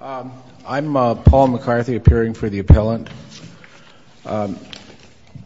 I'm Paul McCarthy appearing for the appellant.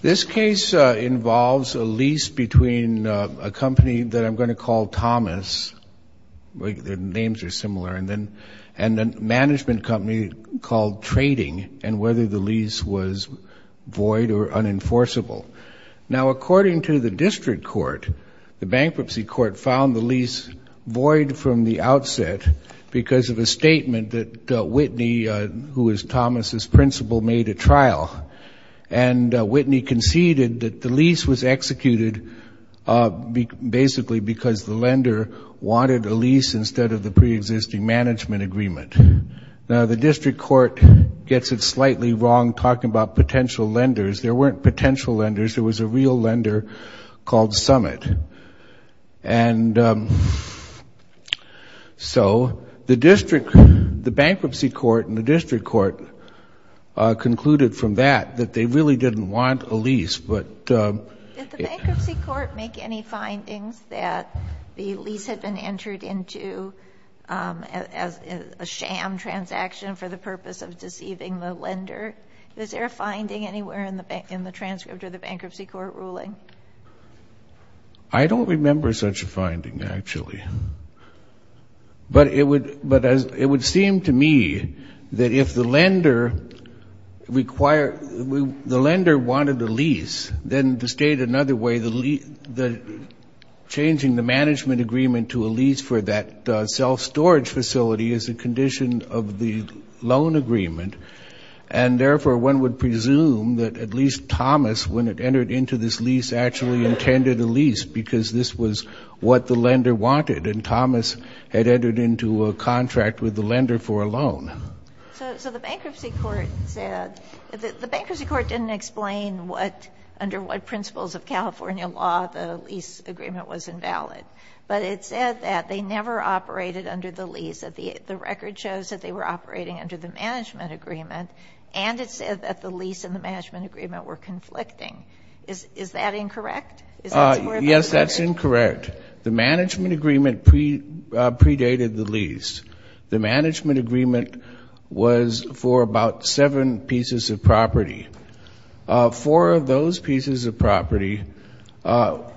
This case involves a lease between a company that I'm going to call Thomas, their names are similar, and then a management company called Trading and whether the lease was void or unenforceable. Now according to the district court, the bankruptcy court found the lease void from the outset because of a statement that Whitney, who is Thomas's principal, made a trial. And Whitney conceded that the lease was executed basically because the lender wanted a lease instead of the pre-existing management agreement. Now the district court gets it slightly wrong talking about potential lenders. There weren't potential lenders, there was a real lender called Summit. And so the district, the bankruptcy court, and the district court concluded from that that they really didn't want a lease. Did the bankruptcy court make any findings that the lease had been entered into as a sham transaction for the purpose of deceiving the lender? Is there a finding anywhere in the transcript of the bankruptcy court ruling? I don't remember such a finding, actually. But it would seem to me that if the lender required, the lender wanted the lease, then to state another way, the changing the management agreement to a lease for that self-storage facility is a condition of the loan agreement. And therefore, one would presume that at least Thomas, when it entered into this lease, actually intended a lease because this was what the lender wanted. And Thomas had entered into a contract with the lender for a loan. So the bankruptcy court said, the bankruptcy court didn't explain what, under what principles of California law, the lease agreement was operating under the management agreement, and it said that the lease and the management agreement were conflicting. Is that incorrect? Yes, that's incorrect. The management agreement predated the lease. The management agreement was for about seven pieces of property. Four of those pieces of property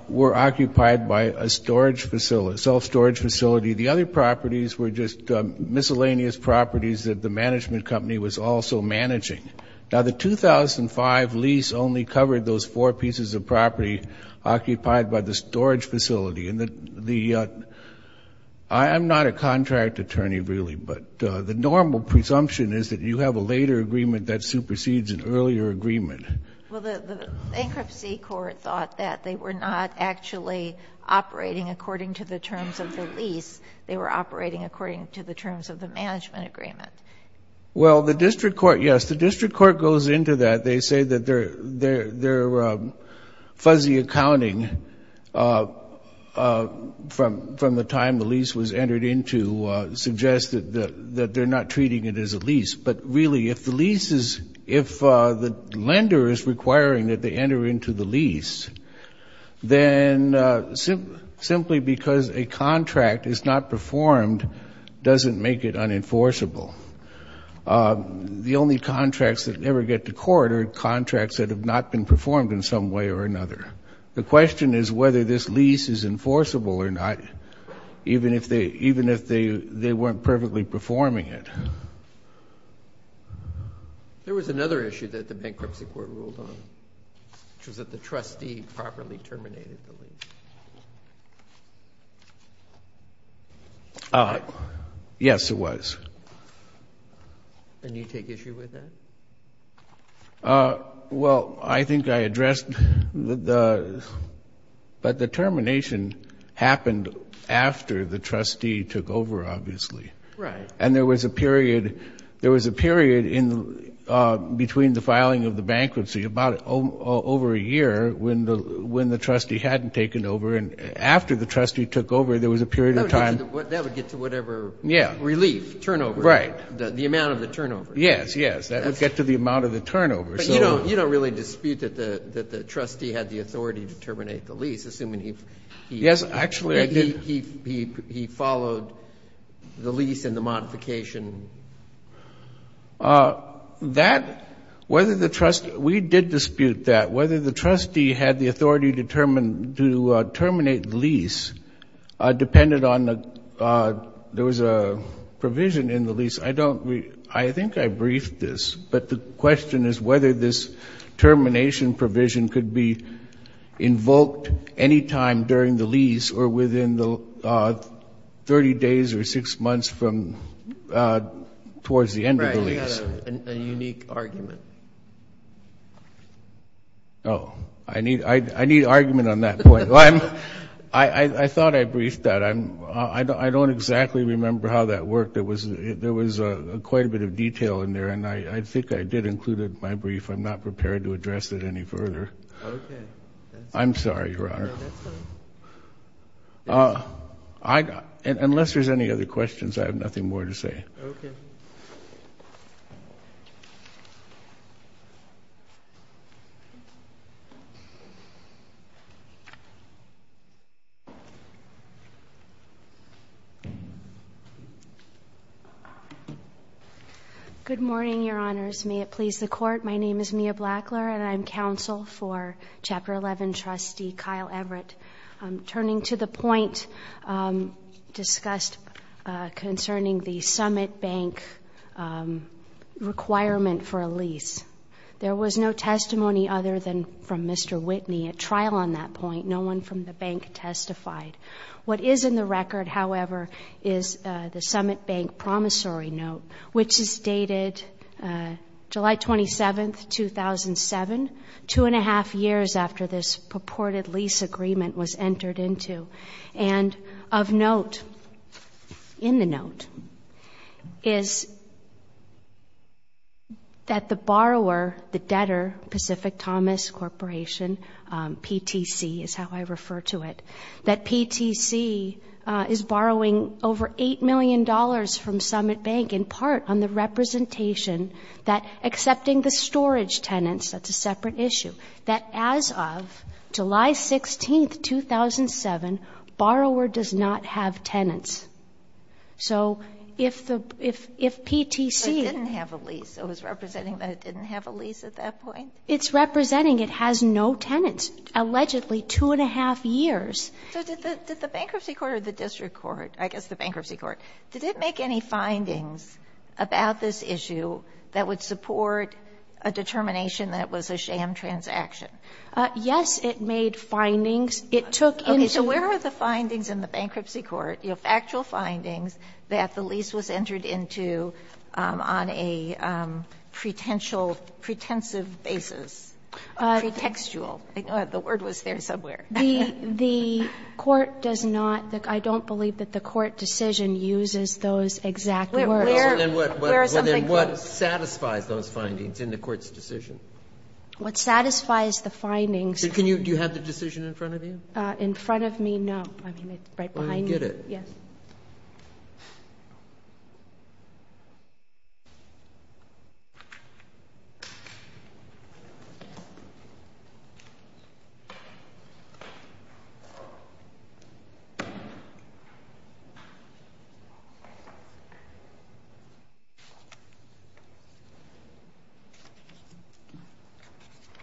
were occupied by a storage facility, self-storage facility. The other properties were just miscellaneous properties that the management company was also managing. Now, the 2005 lease only covered those four pieces of property occupied by the storage facility. And the — I'm not a contract attorney, really, but the normal presumption is that you have a later agreement that supersedes an earlier agreement. Well, the bankruptcy court thought that they were not actually operating according to the terms of the lease. They were operating according to the terms of the management agreement. Well, the district court — yes, the district court goes into that. They say that their fuzzy accounting from the time the lease was entered into suggests that they're not treating it as a lease. But really, if the lease is — if the lender is requiring that they enter into the lease, then simply because a contract is not performed doesn't make it unenforceable. The only contracts that ever get to court are contracts that have not been performed in some way or another. The question is whether this lease is enforceable or not, even if they weren't perfectly performing it. There was another issue that the bankruptcy court ruled on, which was that the trustee properly terminated the lease. Yes, it was. And you take issue with that? Well, I think I addressed the — but the termination happened after the trustee took over, obviously. Right. And there was a period — there was a period in — between the filing of the bankruptcy about over a year when the trustee hadn't taken over. And after the trustee took over, there was a period of time — That would get to whatever — Yeah. Relief, turnover. Right. The amount of the turnover. Yes, yes. That would get to the amount of the turnover. So — But you don't really dispute that the trustee had the authority to terminate the lease, assuming he — Yes, actually, I did. He followed the lease and the modification. That — whether the trustee — we did dispute that. Whether the trustee had the authority to terminate the lease depended on — there was a provision in the lease. I don't — I think I briefed this. But the question is whether this termination provision could be the 30 days or six months from — towards the end of the lease. Right. You had a unique argument. Oh. I need — I need argument on that point. I thought I briefed that. I don't exactly remember how that worked. There was quite a bit of detail in there. And I think I did include it in my brief. I'm not prepared to address it any further. Okay. I'm sorry, Your Honor. No, that's fine. I — unless there's any other questions, I have nothing more to say. Okay. Good morning, Your Honors. May it please the Court, my name is Mia Blackler and I'm counsel for Chapter 11 trustee Kyle Everett. Turning to the point discussed concerning the Summit Bank requirement for a lease, there was no testimony other than from Mr. Whitney at trial on that point. No one from the bank testified. What is in the record, however, is the Summit Bank promissory note, which is dated July 27, 2007, two and a half years after this purported lease agreement was entered into. And of note in the note is that the borrower, the debtor, Pacific Thomas Corporation, PTC is how I refer to it, that PTC is borrowing over $8 million from Summit Bank in part on the representation that — accepting the storage tenants, that's a separate issue — that as of July 16, 2007, borrower does not have tenants. So if the — if PTC — So it didn't have a lease. It was representing that it didn't have a lease at that point? It's representing it has no tenants. Allegedly, two and a half years — So did the bankruptcy court or the district court, I guess the bankruptcy court, did it make any findings about this issue that would support a determination that it was a sham transaction? Yes, it made findings. It took into — Okay. So where are the findings in the bankruptcy court, you know, factual findings that the lease was entered into on a pretentious — pretensive basis, pretextual — the word was there somewhere. The court does not — I don't believe that the court decision uses those exact words. Where are some things? Well, then what satisfies those findings in the court's decision? What satisfies the findings? Can you — do you have the decision in front of you? In front of me, no. I mean, it's right behind me. Well, then get it. Yes.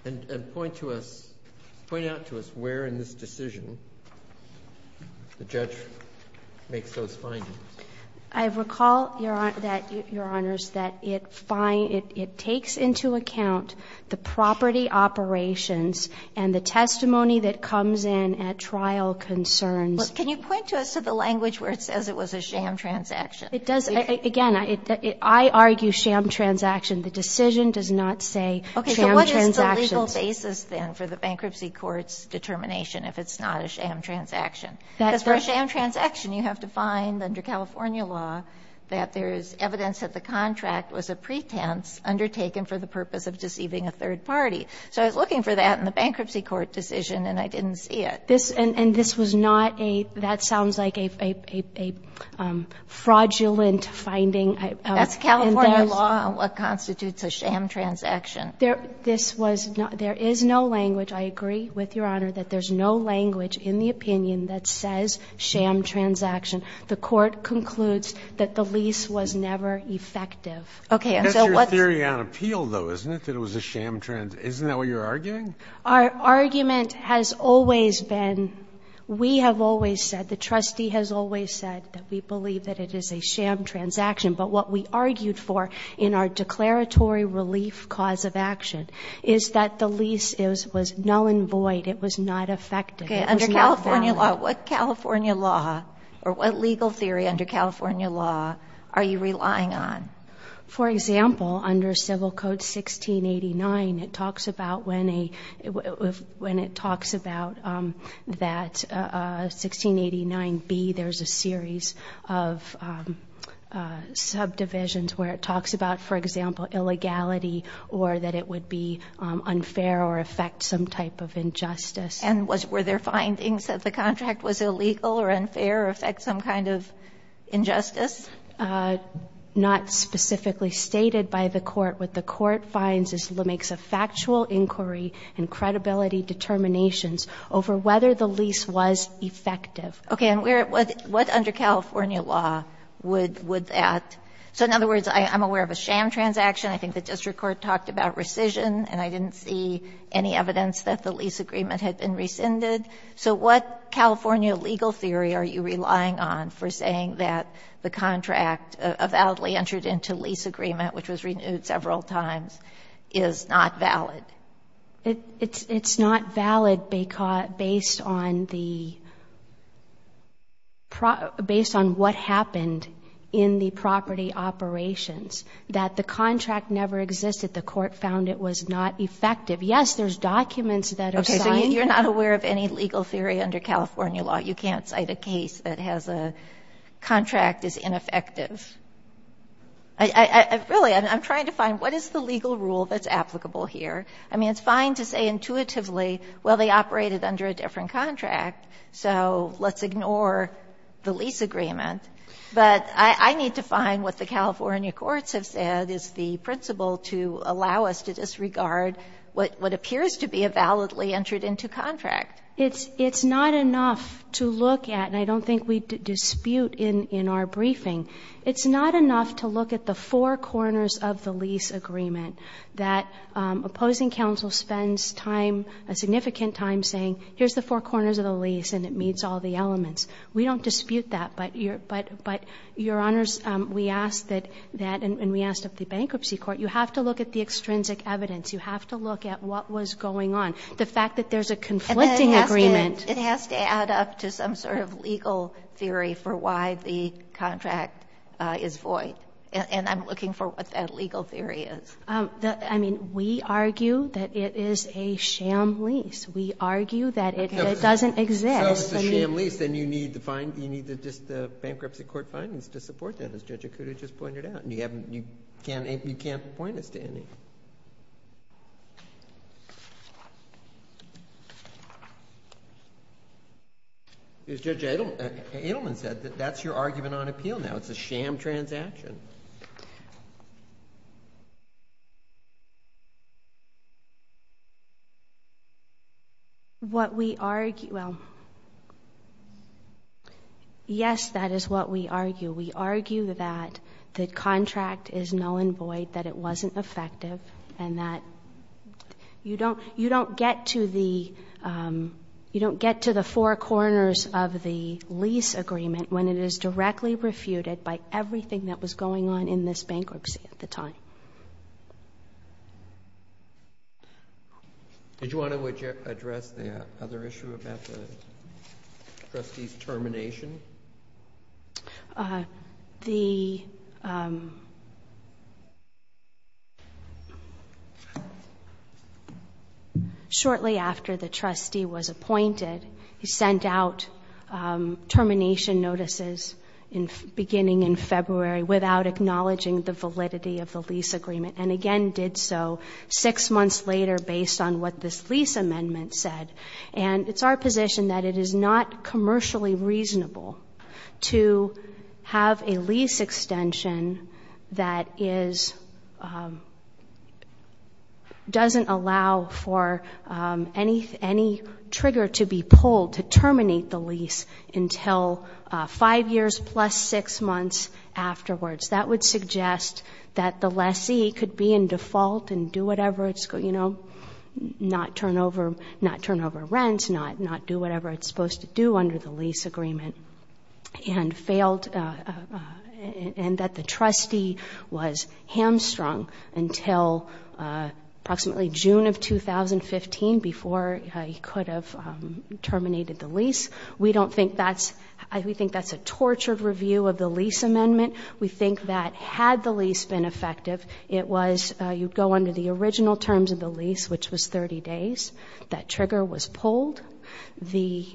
And point to us — point out to us where in this decision the judge makes those findings. I recall that, Your Honors, that it takes into account the property operations and the testimony that comes in at trial concerns. Well, can you point to us to the language where it says it was a sham transaction? It does. Again, I argue sham transaction. The decision does not say sham transaction. Okay. So what is the legal basis, then, for the bankruptcy court's determination if it's not a sham transaction? Because for a sham transaction, you have to find under California law that there is evidence that the contract was a pretense undertaken for the purpose of deceiving a third party. So I was looking for that in the bankruptcy court decision, and I didn't see it. This — and this was not a — that sounds like a fraudulent finding. That's California law on what constitutes a sham transaction. This was not — there is no language — I agree with Your Honor that there's no language in the opinion that says sham transaction. The court concludes that the lease was never effective. Okay. And so what's — It's very unappealed, though, isn't it, that it was a sham — isn't that what you're arguing? Our argument has always been — we have always said, the trustee has always said that we believe that it is a sham transaction. But what we argued for in our declaratory relief cause of action is that the lease was null and void. It was not effective. It was not valid. Okay. Under California law, what California law or what legal theory under California law are you relying on? For example, under Civil Code 1689, it talks about when a — when it talks about that 1689B, there's a series of subdivisions where it talks about, for example, illegality or that it would be unfair or affect some type of injustice. And were there findings that the contract was illegal or unfair or affect some kind of injustice? Not specifically stated by the court. What the court finds is it makes a factual inquiry and credibility determinations over whether the lease was effective. Okay. And what under California law would that — so in other words, I'm aware of a sham transaction. I think the district court talked about rescission, and I didn't see any evidence that the lease agreement had been rescinded. So what California legal theory are you relying on for saying that the contract avowedly entered into lease agreement, which was renewed several times, is not valid? It's not valid based on the — based on what happened in the property operations, that the contract never existed. The court found it was not effective. Yes, there's documents that are signed. So you're not aware of any legal theory under California law. You can't cite a case that has a contract as ineffective. Really, I'm trying to find what is the legal rule that's applicable here. I mean, it's fine to say intuitively, well, they operated under a different contract, so let's ignore the lease agreement. But I need to find what the California courts have said is the principle to allow us to disregard what appears to be a validly entered into contract. It's not enough to look at, and I don't think we dispute in our briefing, it's not enough to look at the four corners of the lease agreement that opposing counsel spends time, significant time, saying here's the four corners of the lease and it meets all the elements. We don't dispute that. But, Your Honors, we asked that, and we asked of the bankruptcy court, you have to look at the extrinsic evidence. You have to look at what was going on. The fact that there's a conflicting agreement. And then it has to add up to some sort of legal theory for why the contract is void. And I'm looking for what that legal theory is. I mean, we argue that it is a sham lease. We argue that it doesn't exist. So it's a sham lease, and you need the bankruptcy court findings to support that, as Judge Okuda just pointed out. You can't point us to any. Judge Edelman said that that's your argument on appeal now. It's a sham transaction. What we argue, well, yes, that is what we argue. We argue that the contract is null and void, that it wasn't effective, and that you don't get to the four corners of the lease agreement when it is directly refuted by everything that was going on in this bankruptcy at the time. Did you want to address the other issue about the trustee's termination? The – shortly after the trustee was appointed, he sent out termination notices beginning in February without acknowledging the validity of the lease agreement, and again did so six months later based on what this lease amendment said. And it's our position that it is not commercially reasonable to have a lease extension that doesn't allow for any trigger to be pulled to terminate the lease until five years plus six months afterwards. That would suggest that the lessee could be in default and do whatever it's – you know, not turn over rents, not do whatever it's supposed to do under the lease agreement, and failed – and that the trustee was hamstrung until approximately June of 2015 before he could have terminated the lease. We don't think that's – we think that's a tortured review of the lease amendment. We think that had the lease been effective, it was – it would go under the original terms of the lease, which was 30 days. That trigger was pulled. The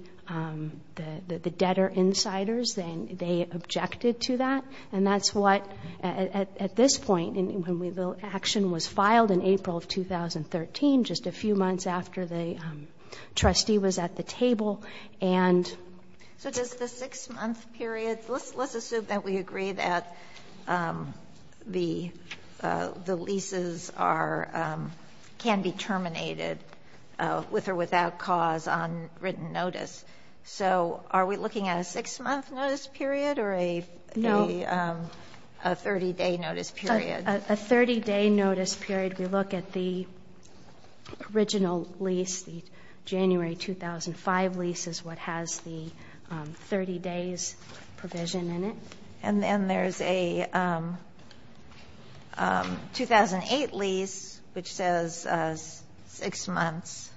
debtor insiders, they objected to that. And that's what – at this point, when the action was filed in April of 2013, just a few months after the trustee was at the table, and – Let's assume that we agree that the leases are – can be terminated with or without cause on written notice. So are we looking at a six-month notice period or a 30-day notice period? A 30-day notice period. We look at the original lease, the January 2005 lease is what has the 30 days provision in it. And then there's a 2008 lease, which says six months.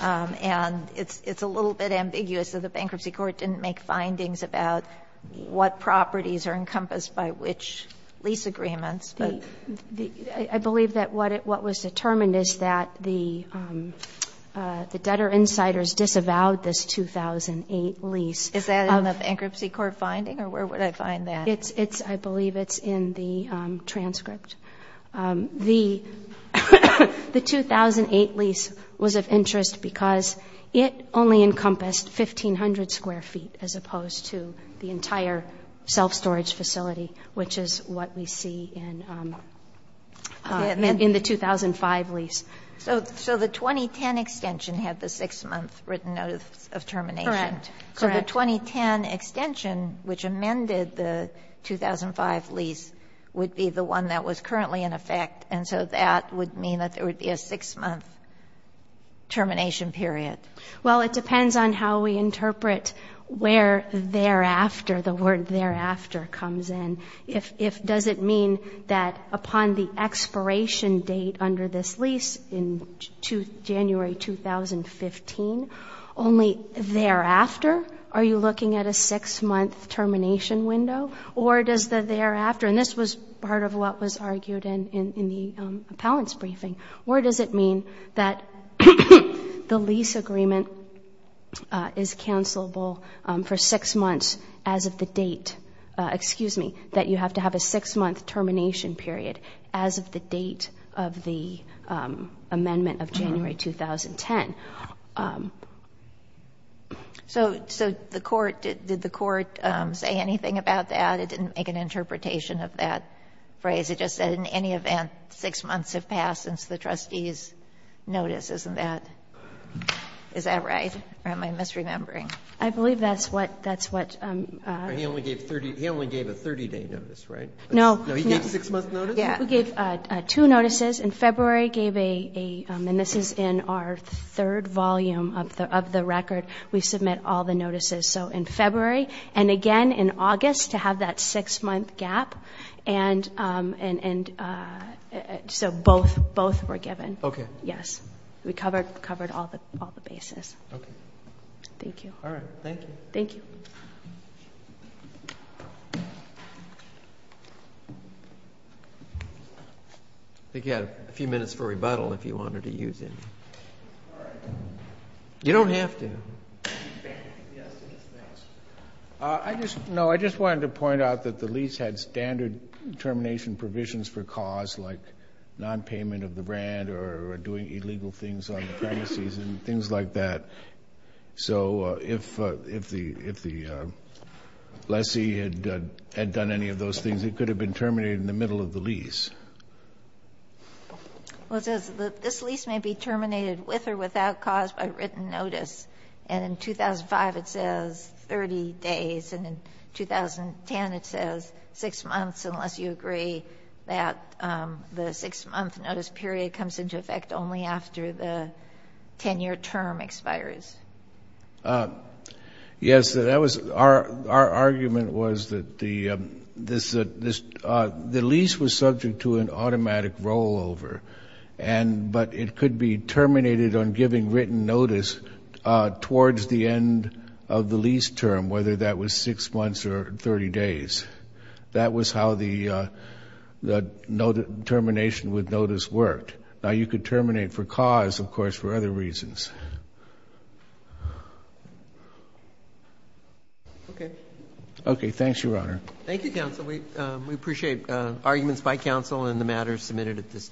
And it's a little bit ambiguous that the bankruptcy court didn't make findings about what properties are encompassed by which lease agreements. I believe that what was determined is that the debtor insiders disavowed this 2008 lease. Is that in the bankruptcy court finding? Or where would I find that? It's – I believe it's in the transcript. The 2008 lease was of interest because it only encompassed 1,500 square feet as opposed to the entire self-storage facility, which is what we see in the 2005 lease. So the 2010 extension had the six-month written notice of termination. Correct. So the 2010 extension, which amended the 2005 lease, would be the one that was currently in effect. And so that would mean that there would be a six-month termination period. Well, it depends on how we interpret where thereafter, the word thereafter comes in. If – does it mean that upon the expiration date under this lease in January 2015, only thereafter are you looking at a six-month termination window? Or does the thereafter – and this was part of what was argued in the appellant's briefing. Or does it mean that the lease agreement is cancelable for six months as of the date – excuse me, that you have to have a six-month termination period as of the date of the amendment of January 2010? So the court – did the court say anything about that? It didn't make an interpretation of that phrase. It just said in any event, six months have passed since the trustee's notice, isn't that – is that right? Or am I misremembering? I believe that's what – He only gave a 30-day notice, right? No. No, he gave a six-month notice? Yeah, he gave two notices. In February, he gave a – and this is in our third volume of the record. We submit all the notices. So in February. And again, in August, to have that six-month gap. And so both were given. Okay. Yes. We covered all the bases. Okay. Thank you. All right. Thank you. Thank you. I think you had a few minutes for rebuttal if you wanted to use any. All right. You don't have to. Yes. Yes, thanks. I just – no, I just wanted to point out that the lease had standard termination provisions for cause, like nonpayment of the rent or doing illegal things on the premises and things like that. So if the lessee had done any of those things, it could have been terminated in the middle of the lease. Well, it says that this lease may be terminated with or without cause by written notice. And in 2005, it says 30 days. And in 2010, it says six months, unless you agree that the six-month notice period comes into effect only after the 10-year term expires. Yes, that was – our argument was that the lease was subject to an automatic rollover, but it could be terminated on giving written notice towards the end of the lease term, whether that was six months or 30 days. That was how the termination with notice worked. Now, you could terminate for cause, of course, for other reasons. Okay. Okay. Thanks, Your Honor. Thank you, counsel. We appreciate arguments by counsel, and the matter is submitted at this time.